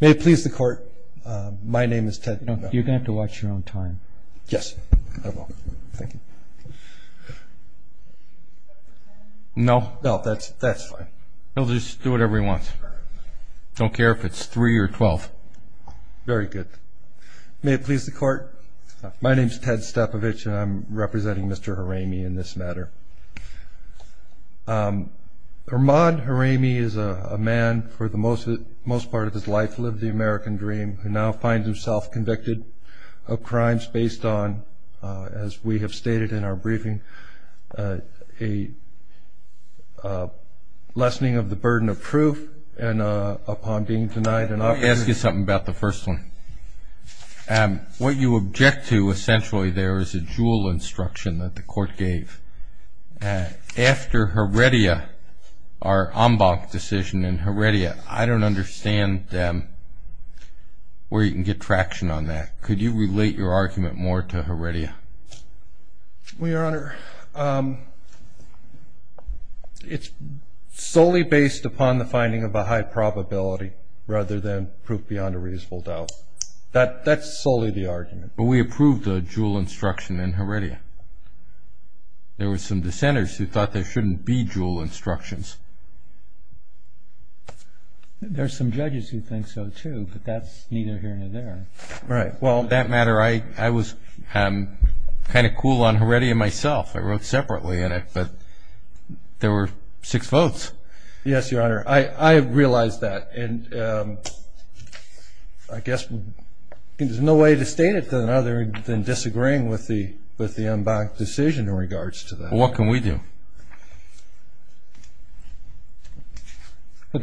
May it please the court, my name is Ted Stapovich and I'm representing Mr. Hereimi in this matter. Imad Hereimi is a man for the most part of his life lived the American dream who now finds himself convicted of crimes based on, as we have stated in our briefing, a lessening of the burden of proof and upon being denied an opportunity Let me ask you something about the first one. What you object to essentially there is a jewel instruction that the court gave. After Heredia, our en banc decision in Heredia, I don't understand where you can get traction on that. Could you relate your argument more to Heredia? Your Honor, it's solely based upon the finding of a high probability rather than proof beyond a reasonable doubt. That's solely the argument. But we approved a jewel instruction in Heredia. There were some dissenters who thought there shouldn't be jewel instructions. There are some judges who think so too, but that's neither here nor there. In that matter, I was kind of cool on Heredia myself. I wrote separately in it, but there were six votes. Yes, Your Honor. I realize that and I guess there's no way to state it to another than disagreeing with the en banc decision in regards to that. What can we do?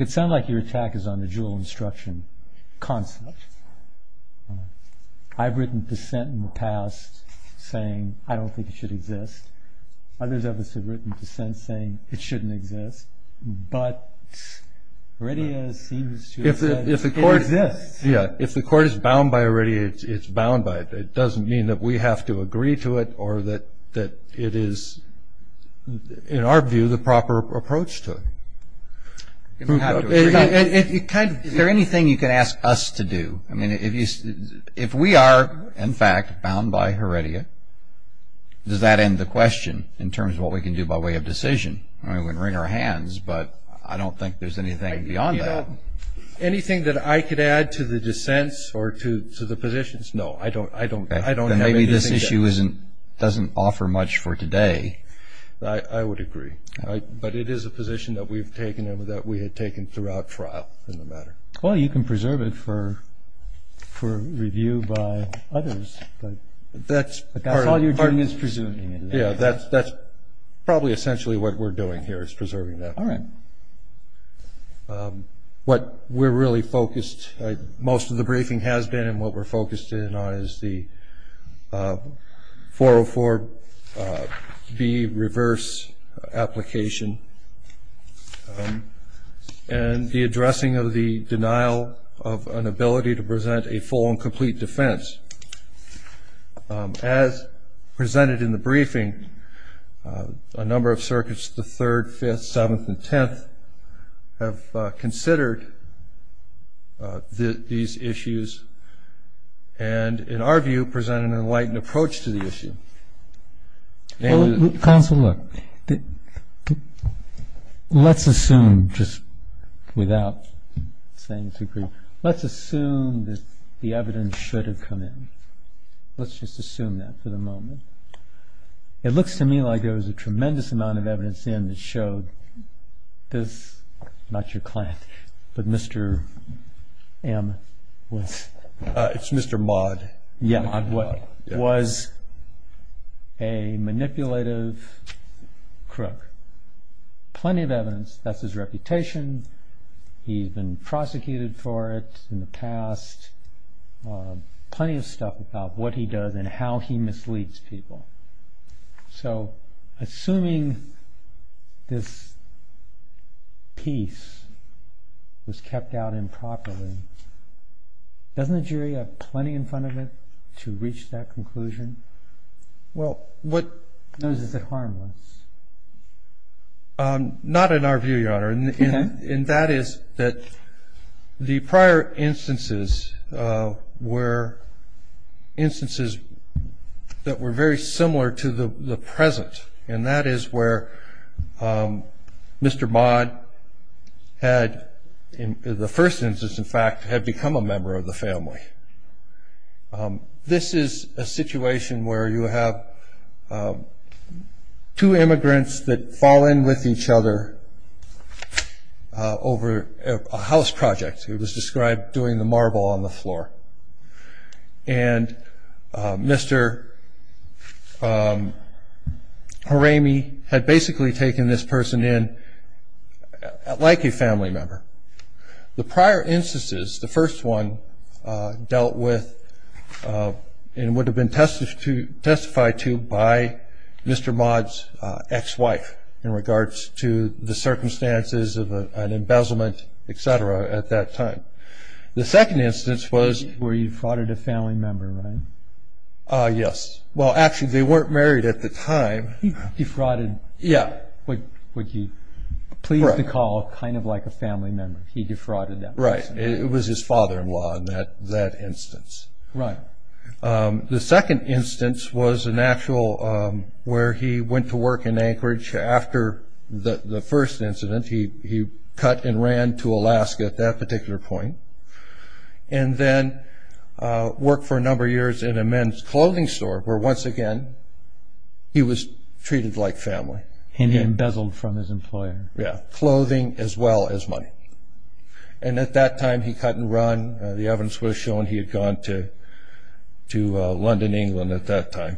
It sounds like your attack is on the jewel instruction concept. I've written dissent in the past saying I don't think it should exist. Others have written dissent saying it shouldn't exist, but Heredia seems to have said it exists. If the court is bound by Heredia, it's bound by it. It doesn't mean that we have to agree to it or that it is, in our view, the proper approach to it. Is there anything you can ask us to do? If we are, in fact, bound by Heredia, does that end the question in terms of what we can do by way of decision? I wouldn't wring our hands, but I don't think there's anything beyond that. Anything that I could add to the dissents or to the positions? No, I don't have anything to add. Maybe this issue doesn't offer much for today. I would agree, but it is a position that we've taken and that we had taken throughout trial in the matter. Well, you can preserve it for review by others, but that's all you're doing is presuming. Yeah, that's probably essentially what we're doing here is preserving that. All right. What we're really focused, most of the briefing has been, and what we're focused in on is the 404B reverse application and the addressing of the denial of an ability to present a full and complete defense. As presented in the briefing, a number of circuits, the 3rd, 5th, 7th, and 10th, have considered these issues and, in our view, presented an enlightened approach to the issue. Counsel, look. Let's assume, just without saying too briefly, let's assume that the evidence should have come in. Let's just assume that for the moment. It looks to me like there was a tremendous amount of evidence in that showed this, not your client, but Mr. M. It's Mr. Maud. Was a manipulative crook. Plenty of evidence. That's his reputation. He's been prosecuted for it in the past. Plenty of stuff about what he does and how he misleads people. So, assuming this piece was kept out improperly, doesn't the jury have plenty in front of it to reach that conclusion? Or is it harmless? Not in our view, Your Honor. And that is that the prior instances were instances that were very similar to the present. And that is where Mr. Maud had, in the first instance, in fact, had become a member of the family. This is a situation where you have two immigrants that fall in with each other over a house project. It was described doing the marble on the floor. And Mr. Haramee had basically taken this person in like a family member. The prior instances, the first one, dealt with and would have been testified to by Mr. Maud's ex-wife in regards to the circumstances of an embezzlement, et cetera, at that time. The second instance was. Where you frauded a family member, right? Yes. Well, actually, they weren't married at the time. He frauded. Yeah. But he pleaded the call kind of like a family member. He defrauded that person. Right. It was his father-in-law in that instance. Right. The second instance was an actual where he went to work in Anchorage. After the first incident, he cut and ran to Alaska at that particular point and then worked for a number of years in a men's clothing store where, once again, he was treated like family. And he embezzled from his employer. Yeah. Clothing as well as money. And at that time, he cut and ran. The evidence would have shown he had gone to London, England at that time.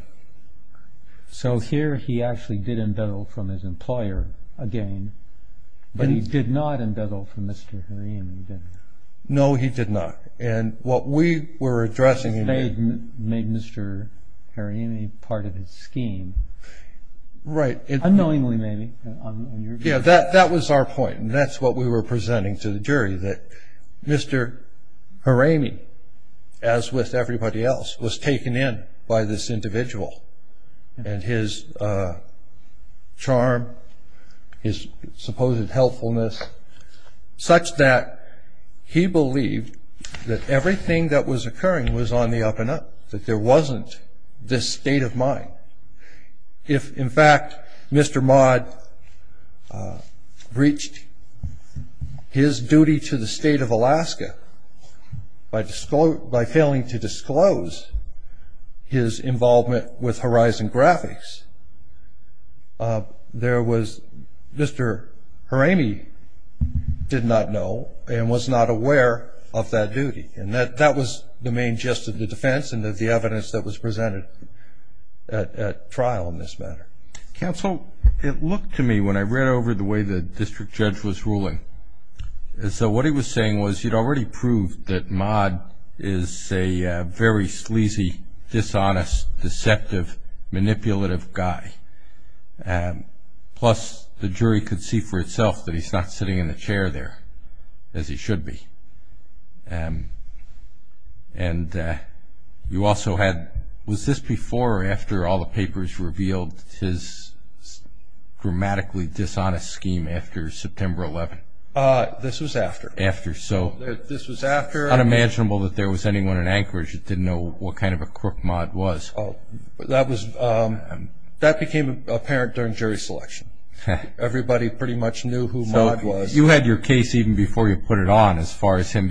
So here he actually did embezzle from his employer again. But he did not embezzle from Mr. Haramee, did he? No, he did not. He made Mr. Haramee part of his scheme. Right. Unknowingly, maybe. Yeah, that was our point, and that's what we were presenting to the jury, that Mr. Haramee, as with everybody else, was taken in by this individual and his charm, his supposed helpfulness, such that he believed that everything that was occurring was on the up-and-up, that there wasn't this state of mind. If, in fact, Mr. Maude breached his duty to the state of Alaska by failing to disclose his involvement with Horizon Graphics, Mr. Haramee did not know and was not aware of that duty. And that was the main gist of the defense and of the evidence that was presented at trial in this matter. Counsel, it looked to me, when I read over the way the district judge was ruling, as though what he was saying was he'd already proved that Maude is a very sleazy, dishonest, deceptive, manipulative guy. Plus, the jury could see for itself that he's not sitting in the chair there, as he should be. And you also had – was this before or after all the papers revealed his dramatically dishonest scheme after September 11? This was after. After, so it's unimaginable that there was anyone in Anchorage that didn't know what kind of a crook Maude was. That became apparent during jury selection. Everybody pretty much knew who Maude was. You had your case even before you put it on, as far as him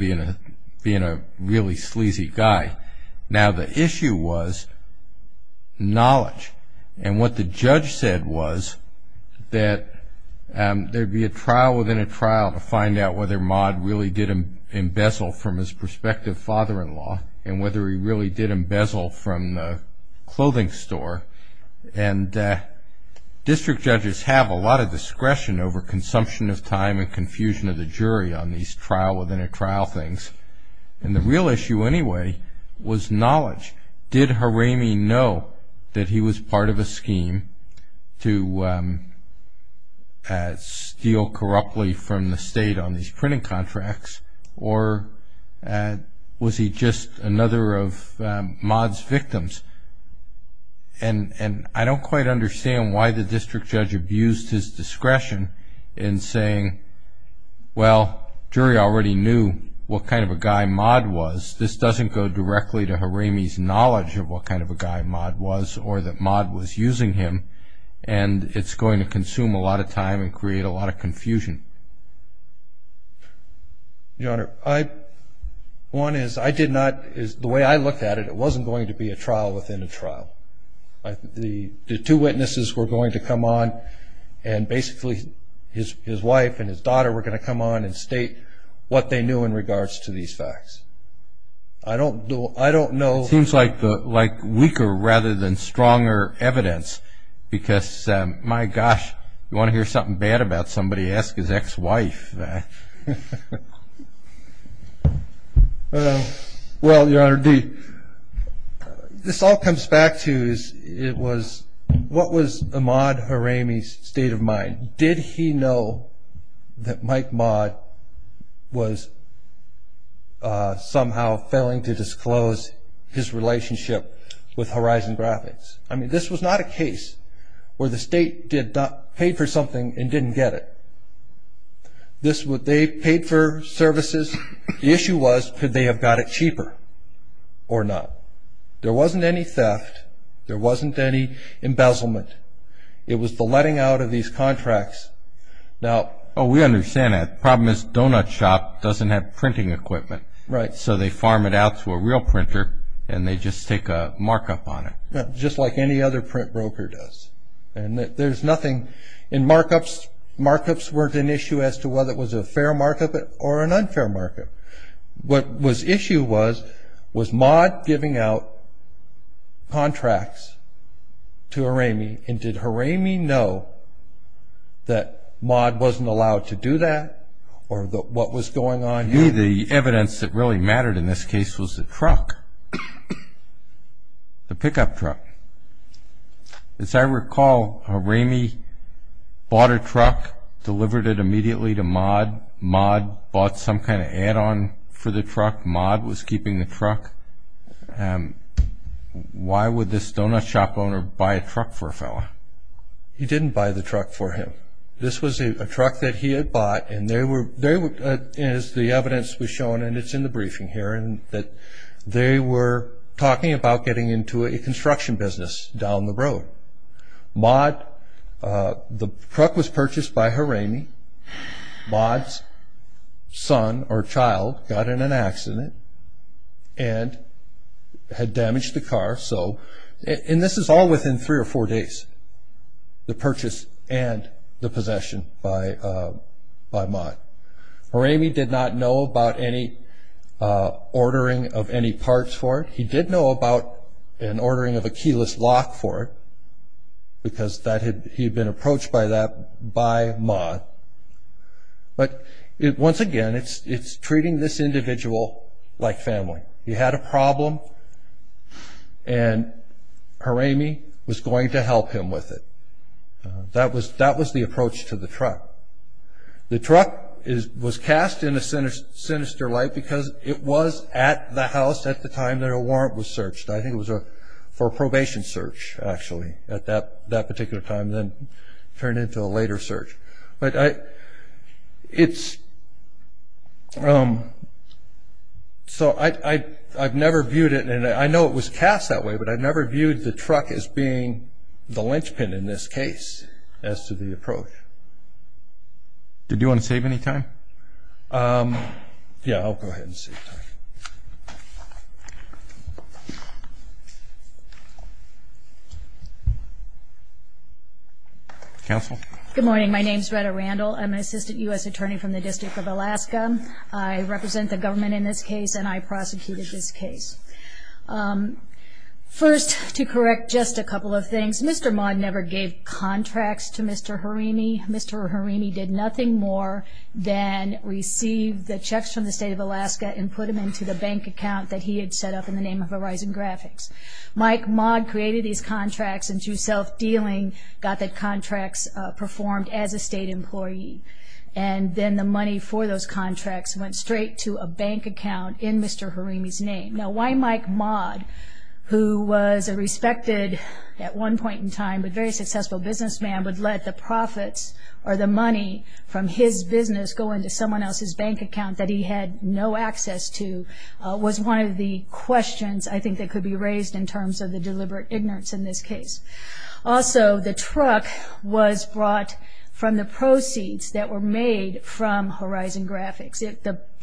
being a really sleazy guy. Now, the issue was knowledge. And what the judge said was that there'd be a trial within a trial to find out whether Maude really did embezzle from his prospective father-in-law and whether he really did embezzle from the clothing store. And district judges have a lot of discretion over consumption of time and confusion of the jury on these trial-within-a-trial things. And the real issue anyway was knowledge. Did Haramee know that he was part of a scheme to steal corruptly from the state on these printing contracts? Or was he just another of Maude's victims? And I don't quite understand why the district judge abused his discretion in saying, well, jury already knew what kind of a guy Maude was. This doesn't go directly to Haramee's knowledge of what kind of a guy Maude was or that Maude was using him, and it's going to consume a lot of time and create a lot of confusion. Your Honor, one is the way I looked at it, it wasn't going to be a trial within a trial. The two witnesses were going to come on, and basically his wife and his daughter were going to come on and state what they knew in regards to these facts. I don't know. It seems like weaker rather than stronger evidence because, my gosh, you want to hear something bad about somebody, ask his ex-wife. Well, Your Honor, this all comes back to what was Maude Haramee's state of mind. Did he know that Mike Maude was somehow failing to disclose his relationship with Horizon Graphics? I mean, this was not a case where the state paid for something and didn't get it. They paid for services. The issue was could they have got it cheaper or not? There wasn't any theft. There wasn't any embezzlement. It was the letting out of these contracts. We understand that. The problem is Donut Shop doesn't have printing equipment, so they farm it out to a real printer and they just take a markup on it. Just like any other print broker does. There's nothing in markups. Markups weren't an issue as to whether it was a fair markup or an unfair markup. What the issue was, was Maude giving out contracts to Haramee, and did Haramee know that Maude wasn't allowed to do that or what was going on here? The evidence that really mattered in this case was the truck, the pickup truck. As I recall, Haramee bought a truck, delivered it immediately to Maude. Maude bought some kind of add-on for the truck. Maude was keeping the truck. Why would this Donut Shop owner buy a truck for a fellow? He didn't buy the truck for him. This was a truck that he had bought, and as the evidence was shown, and it's in the briefing here, they were talking about getting into a construction business down the road. Maude, the truck was purchased by Haramee. Maude's son or child got in an accident and had damaged the car. And this is all within three or four days, the purchase and the possession by Maude. Haramee did not know about any ordering of any parts for it. He did know about an ordering of a keyless lock for it because he had been approached by Maude. But once again, it's treating this individual like family. He had a problem, and Haramee was going to help him with it. That was the approach to the truck. The truck was cast in a sinister light because it was at the house at the time that a warrant was searched. I think it was for a probation search, actually, at that particular time, then turned into a later search. So I've never viewed it, and I know it was cast that way, but I've never viewed the truck as being the linchpin in this case as to the approach. Did you want to save any time? Yeah, I'll go ahead and save time. Counsel? Good morning. My name is Rhetta Randall. I'm an assistant U.S. attorney from the District of Alaska. I represent the government in this case, and I prosecuted this case. First, to correct just a couple of things, Mr. Maude never gave contracts to Mr. Haramee. Mr. Haramee did nothing more than receive the checks from the State of Alaska and put them into the bank account that he had set up in the name of Horizon Graphics. Mike Maude created these contracts, and through self-dealing, got the contracts performed as a state employee, and then the money for those contracts went straight to a bank account in Mr. Haramee's name. Now, why Mike Maude, who was a respected, at one point in time, but very successful businessman, would let the profits or the money from his business go into someone else's bank account that he had no access to was one of the questions, I think, that could be raised in terms of the deliberate ignorance in this case. Also, the truck was brought from the proceeds that were made from Horizon Graphics.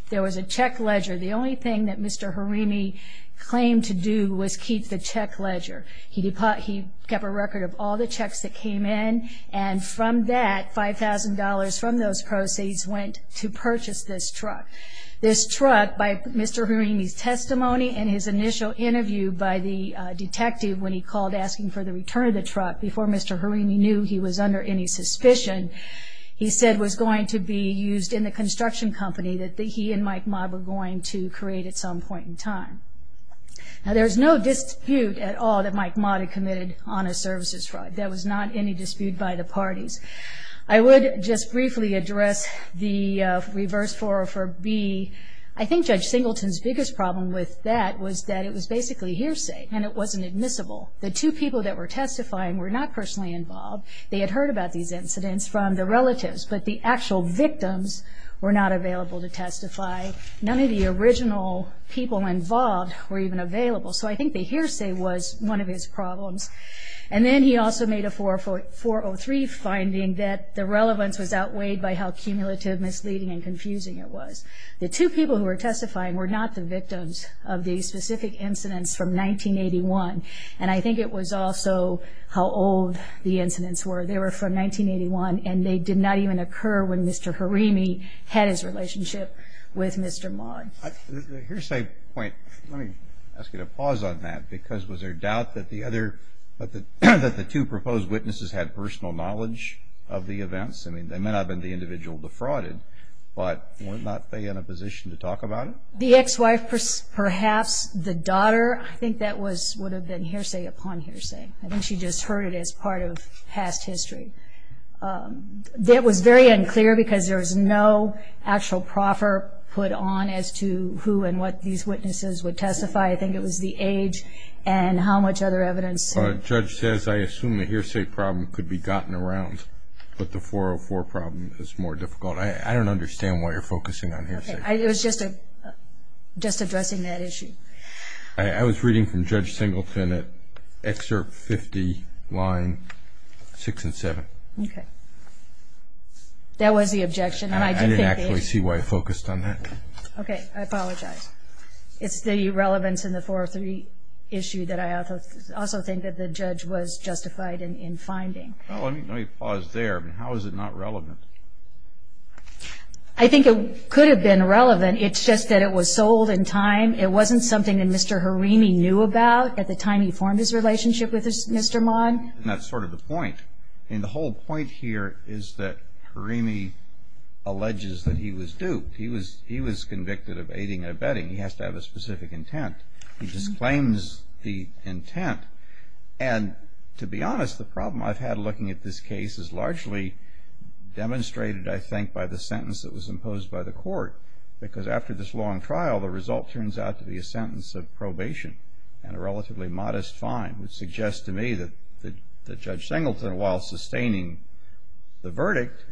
There was a check ledger. The only thing that Mr. Haramee claimed to do was keep the check ledger. He kept a record of all the checks that came in, and from that, $5,000 from those proceeds went to purchase this truck. This truck, by Mr. Haramee's testimony and his initial interview by the detective when he called asking for the return of the truck, before Mr. Haramee knew he was under any suspicion, he said was going to be used in the construction company that he and Mike Maude were going to create at some point in time. Now, there's no dispute at all that Mike Maude had committed honest services fraud. There was not any dispute by the parties. I would just briefly address the reverse 404B. I think Judge Singleton's biggest problem with that was that it was basically hearsay and it wasn't admissible. The two people that were testifying were not personally involved. They had heard about these incidents from the relatives, but the actual victims were not available to testify. None of the original people involved were even available, so I think the hearsay was one of his problems. And then he also made a 403 finding that the relevance was outweighed by how cumulative, misleading, and confusing it was. The two people who were testifying were not the victims of these specific incidents from 1981, and I think it was also how old the incidents were. They were from 1981 and they did not even occur when Mr. Haramee had his relationship with Mr. Maude. The hearsay point, let me ask you to pause on that, because was there doubt that the two proposed witnesses had personal knowledge of the events? I mean, they may not have been the individual defrauded, but were not they in a position to talk about it? The ex-wife, perhaps, the daughter, I think that would have been hearsay upon hearsay. I think she just heard it as part of past history. It was very unclear because there was no actual proffer put on as to who and what these witnesses would testify. I think it was the age and how much other evidence. The judge says, I assume the hearsay problem could be gotten around, but the 404 problem is more difficult. I don't understand why you're focusing on hearsay. It was just addressing that issue. I was reading from Judge Singleton at excerpt 50, line 6 and 7. Okay. That was the objection. I didn't actually see why I focused on that. Okay. I apologize. It's the relevance in the 403 issue that I also think that the judge was justified in finding. Let me pause there. How is it not relevant? I think it could have been relevant. It's just that it was sold in time. It wasn't something that Mr. Harimi knew about at the time he formed his relationship with Mr. Mon. That's sort of the point. The whole point here is that Harimi alleges that he was duped. He was convicted of aiding and abetting. He has to have a specific intent. He just claims the intent. And to be honest, the problem I've had looking at this case is largely demonstrated, I think, by the sentence that was imposed by the court because after this long trial, the result turns out to be a sentence of probation and a relatively modest fine, which suggests to me that Judge Singleton, while sustaining the verdict,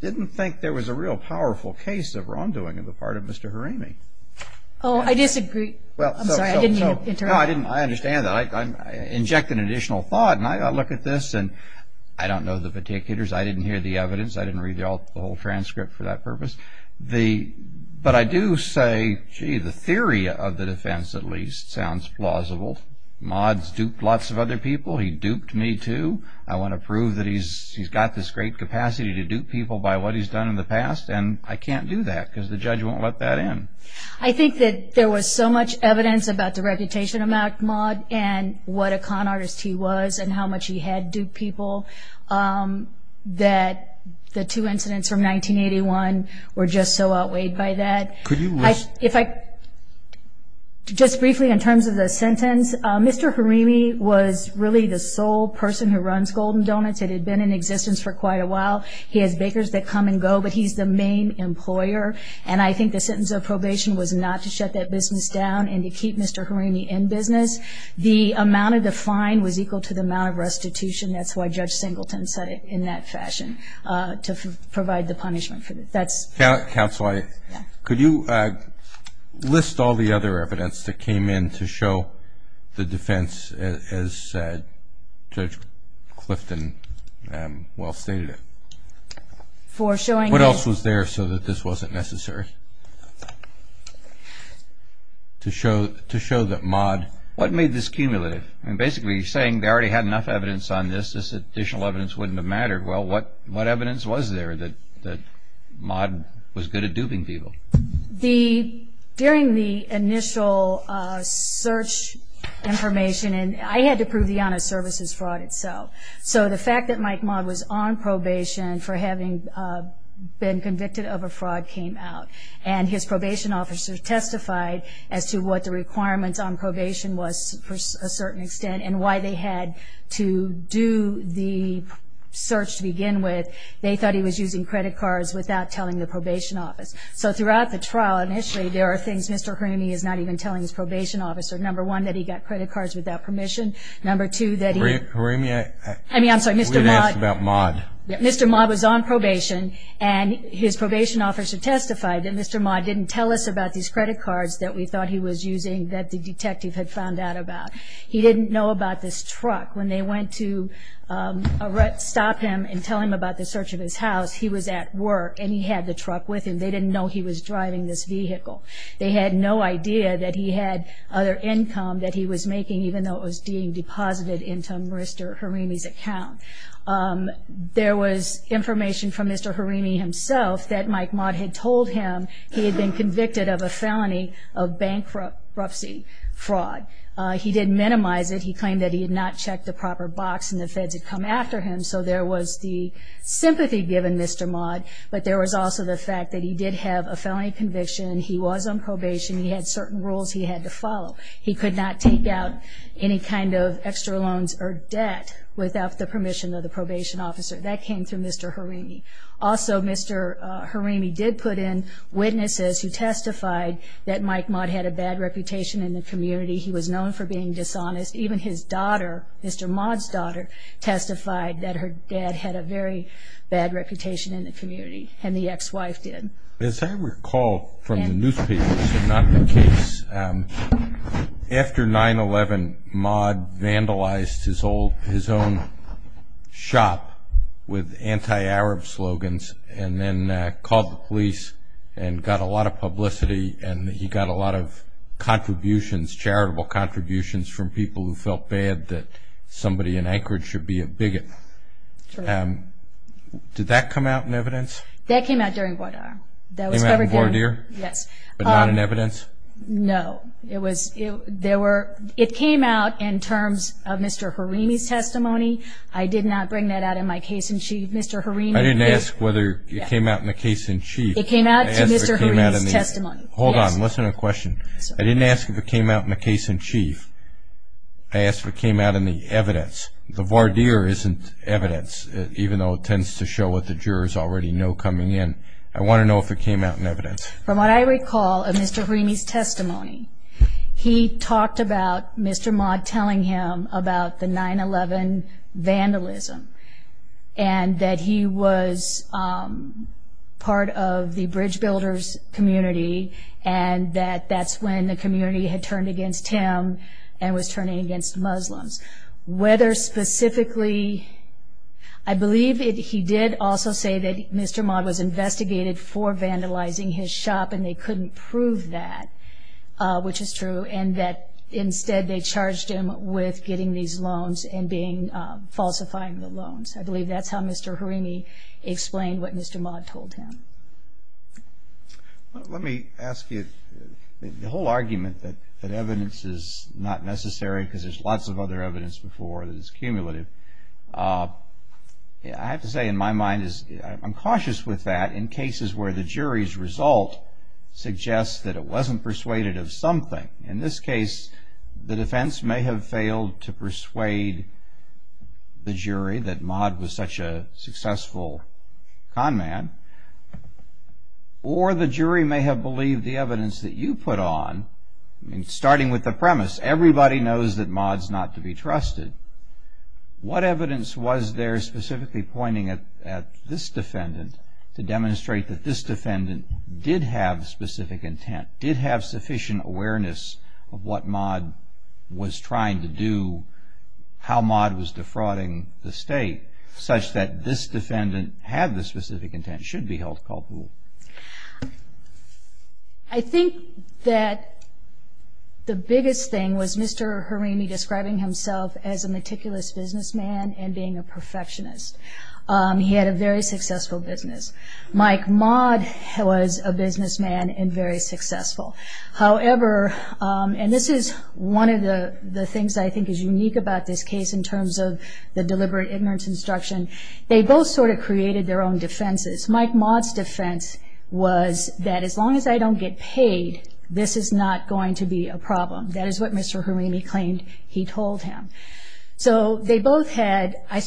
didn't think there was a real powerful case of wrongdoing on the part of Mr. Harimi. Oh, I disagree. I'm sorry. I didn't mean to interrupt. No, I understand that. I inject an additional thought, and I look at this, and I don't know the particulars. I didn't read the whole transcript for that purpose. But I do say, gee, the theory of the defense, at least, sounds plausible. Maude's duped lots of other people. He duped me, too. I want to prove that he's got this great capacity to dupe people by what he's done in the past, and I can't do that because the judge won't let that in. I think that there was so much evidence about the reputation of Mack Maude and what a con artist he was and how much he had duped people that the two incidents from 1981 were just so outweighed by that. Could you list? Just briefly in terms of the sentence, Mr. Harimi was really the sole person who runs Golden Donuts. It had been in existence for quite a while. He has bakers that come and go, but he's the main employer, and I think the sentence of probation was not to shut that business down and to keep Mr. Harimi in business. The amount of the fine was equal to the amount of restitution. That's why Judge Singleton said it in that fashion, to provide the punishment. Counsel, could you list all the other evidence that came in to show the defense, as Judge Clifton well stated it? For showing that? What else was there so that this wasn't necessary to show that Maude? What made this cumulative? Basically, you're saying they already had enough evidence on this. This additional evidence wouldn't have mattered. Well, what evidence was there that Maude was good at duping people? During the initial search information, I had to prove the honest services fraud itself. So the fact that Mike Maude was on probation for having been convicted of a fraud came out, and his probation officer testified as to what the requirements on probation was for a certain extent and why they had to do the search to begin with. They thought he was using credit cards without telling the probation office. So throughout the trial initially, there are things Mr. Harimi is not even telling his probation officer. Number one, that he got credit cards without permission. Number two, that he was on probation, and his probation officer testified that Mr. Maude didn't tell us about these credit cards that we thought he was using that the detective had found out about. He didn't know about this truck. When they went to stop him and tell him about the search of his house, he was at work, and he had the truck with him. They didn't know he was driving this vehicle. They had no idea that he had other income that he was making, even though it was being deposited into Mr. Harimi's account. There was information from Mr. Harimi himself that Mike Maude had told him he had been convicted of a felony of bankruptcy fraud. He did minimize it. He claimed that he had not checked the proper box and the feds had come after him, so there was the sympathy given Mr. Maude, but there was also the fact that he did have a felony conviction. He had certain rules he had to follow. He could not take out any kind of extra loans or debt without the permission of the probation officer. That came through Mr. Harimi. Also, Mr. Harimi did put in witnesses who testified that Mike Maude had a bad reputation in the community. He was known for being dishonest. Even his daughter, Mr. Maude's daughter, testified that her dad had a very bad reputation in the community, and the ex-wife did. As I recall from the newspapers, if not the case, after 9-11, Maude vandalized his own shop with anti-Arab slogans and then called the police and got a lot of publicity and he got a lot of contributions, charitable contributions, from people who felt bad that somebody in Anchorage should be a bigot. Did that come out in evidence? That came out during voir dire. It came out in voir dire? Yes. But not in evidence? No. It came out in terms of Mr. Harimi's testimony. I did not bring that out in my case in chief. Mr. Harimi... I didn't ask whether it came out in the case in chief. It came out in Mr. Harimi's testimony. Hold on. Listen to the question. I didn't ask if it came out in the case in chief. I asked if it came out in the evidence. The voir dire isn't evidence, even though it tends to show what the jurors already know coming in. I want to know if it came out in evidence. From what I recall of Mr. Harimi's testimony, he talked about Mr. Maude telling him about the 9-11 vandalism and that he was part of the bridge builders' community and that that's when the community had turned against him and was turning against Muslims. Whether specifically... I believe he did also say that Mr. Maude was investigated for vandalizing his shop and they couldn't prove that, which is true, and that instead they charged him with getting these loans and falsifying the loans. I believe that's how Mr. Harimi explained what Mr. Maude told him. Let me ask you, the whole argument that evidence is not necessary because there's lots of other evidence before that is cumulative. I have to say, in my mind, I'm cautious with that in cases where the jury's result suggests that it wasn't persuaded of something. In this case, the defense may have failed to persuade the jury that Maude was such a successful con man or the jury may have believed the evidence that you put on. Starting with the premise, everybody knows that Maude's not to be trusted. What evidence was there specifically pointing at this defendant to demonstrate that this defendant did have specific intent, did have sufficient awareness of what Maude was trying to do, how Maude was defrauding the state, such that this defendant had the specific intent, should be held culpable? I think that the biggest thing was Mr. Harimi describing himself as a meticulous businessman and being a perfectionist. He had a very successful business. Mike Maude was a businessman and very successful. However, and this is one of the things I think is unique about this case in terms of the deliberate ignorance instruction, they both sort of created their own defenses. Mike Maude's defense was that as long as I don't get paid, this is not going to be a problem. That is what Mr. Harimi claimed he told him. So they both had, I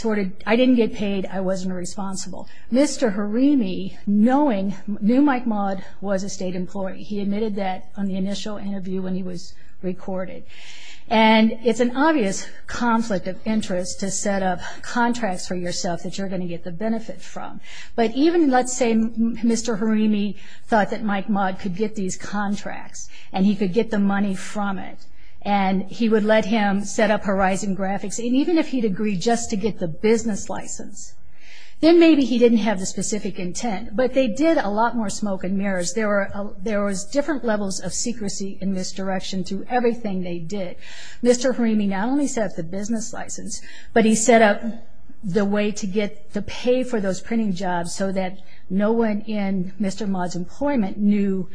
didn't get paid, I wasn't responsible. Mr. Harimi, knowing, knew Mike Maude was a state employee. He admitted that on the initial interview when he was recorded. And it's an obvious conflict of interest to set up contracts for yourself that you're going to get the benefit from. But even, let's say, Mr. Harimi thought that Mike Maude could get these contracts and he could get the money from it and he would let him set up Horizon Graphics. And even if he'd agreed just to get the business license, then maybe he didn't have the specific intent. But they did a lot more smoke and mirrors. There was different levels of secrecy in this direction through everything they did. Mr. Harimi not only set up the business license, but he set up the way to get the pay for those printing jobs so that no one in Mr. Maude's employment knew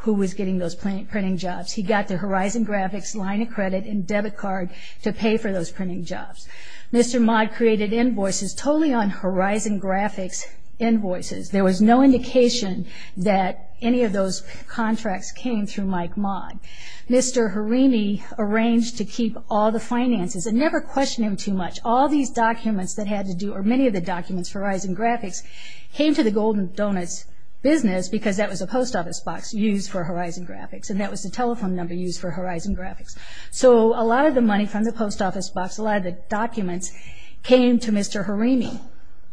who was getting those printing jobs. He got the Horizon Graphics line of credit and debit card to pay for those printing jobs. Mr. Maude created invoices totally on Horizon Graphics invoices. There was no indication that any of those contracts came through Mike Maude. Mr. Harimi arranged to keep all the finances and never questioned him too much. All these documents that had to do, or many of the documents for Horizon Graphics, came to the Golden Donuts business because that was a post office box used for Horizon Graphics and that was the telephone number used for Horizon Graphics. So a lot of the money from the post office box, a lot of the documents, came to Mr. Harimi.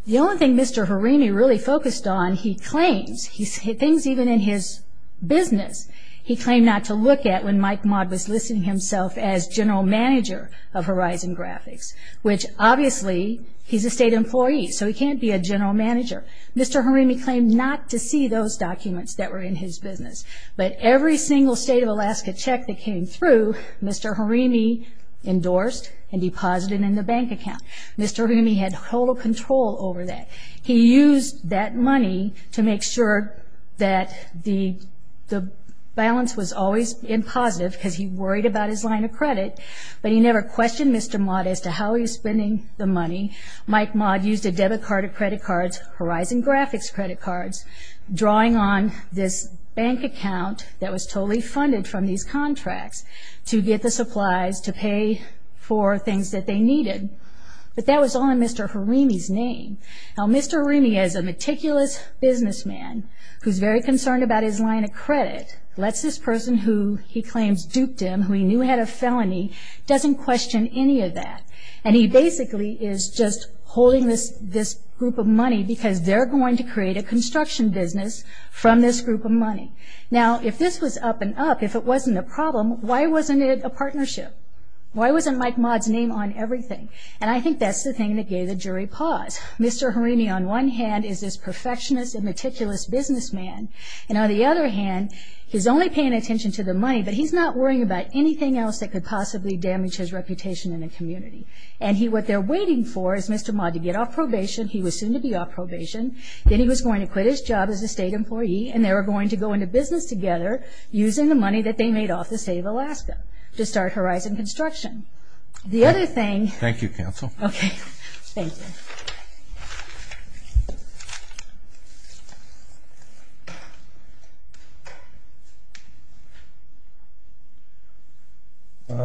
The only thing Mr. Harimi really focused on, he claims, things even in his business, he claimed not to look at when Mike Maude was listing himself as general manager of Horizon Graphics, which obviously he's a state employee, so he can't be a general manager. Mr. Harimi claimed not to see those documents that were in his business, but every single state of Alaska check that came through, Mr. Harimi endorsed and deposited in the bank account. Mr. Harimi had total control over that. He used that money to make sure that the balance was always in positive because he worried about his line of credit, but he never questioned Mr. Maude as to how he was spending the money. Mike Maude used a debit card or credit cards, Horizon Graphics credit cards, drawing on this bank account that was totally funded from these contracts to get the supplies to pay for things that they needed. But that was all in Mr. Harimi's name. Now, Mr. Harimi, as a meticulous businessman who's very concerned about his line of credit, lets this person who he claims duped him, who he knew had a felony, doesn't question any of that. And he basically is just holding this group of money because they're going to create a construction business from this group of money. Now, if this was up and up, if it wasn't a problem, why wasn't it a partnership? Why wasn't Mike Maude's name on everything? And I think that's the thing that gave the jury pause. Mr. Harimi, on one hand, is this perfectionist and meticulous businessman, and on the other hand, he's only paying attention to the money, but he's not worrying about anything else that could possibly damage his reputation in the community. And what they're waiting for is Mr. Maude to get off probation. He was soon to be off probation. Then he was going to quit his job as a state employee, and they were going to go into business together using the money that they made off the state of Alaska to start Horizon Construction. The other thing... Thank you, counsel. Okay. Thank you.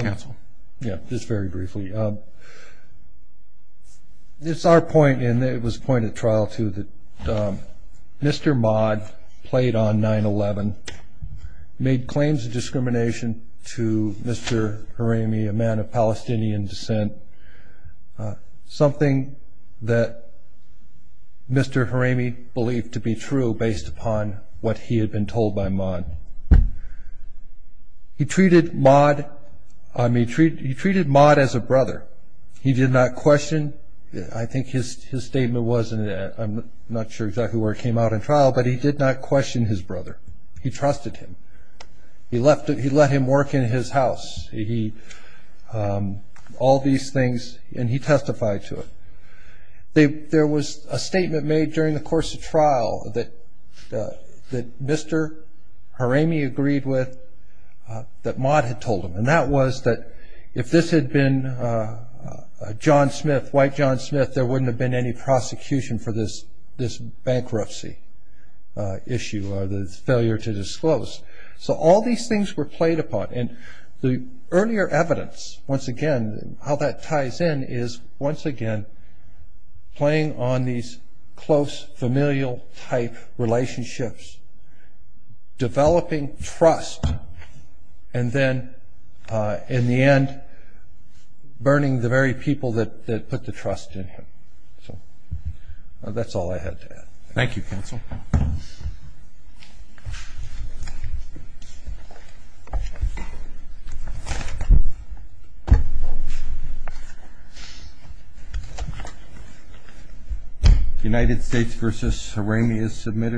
Counsel. Yeah, just very briefly. It's our point, and it was a point at trial, too, that Mr. Maude played on 9-11, made claims of discrimination to Mr. Harimi, a man of Palestinian descent, something that Mr. Harimi believed to be true based upon what he had been told by Maude. He treated Maude as a brother. He did not question. I think his statement was, and I'm not sure exactly where it came out in trial, but he did not question his brother. He trusted him. He let him work in his house, all these things, and he testified to it. There was a statement made during the course of trial that Mr. Harimi agreed with, that Maude had told him, and that was that if this had been John Smith, white John Smith, that there wouldn't have been any prosecution for this bankruptcy issue or the failure to disclose. So all these things were played upon, and the earlier evidence, once again, how that ties in is, once again, playing on these close familial-type relationships, developing trust, and then, in the end, burning the very people that put the trust in him. So that's all I had to add. Thank you, Counsel. United States v. Harimi is submitted.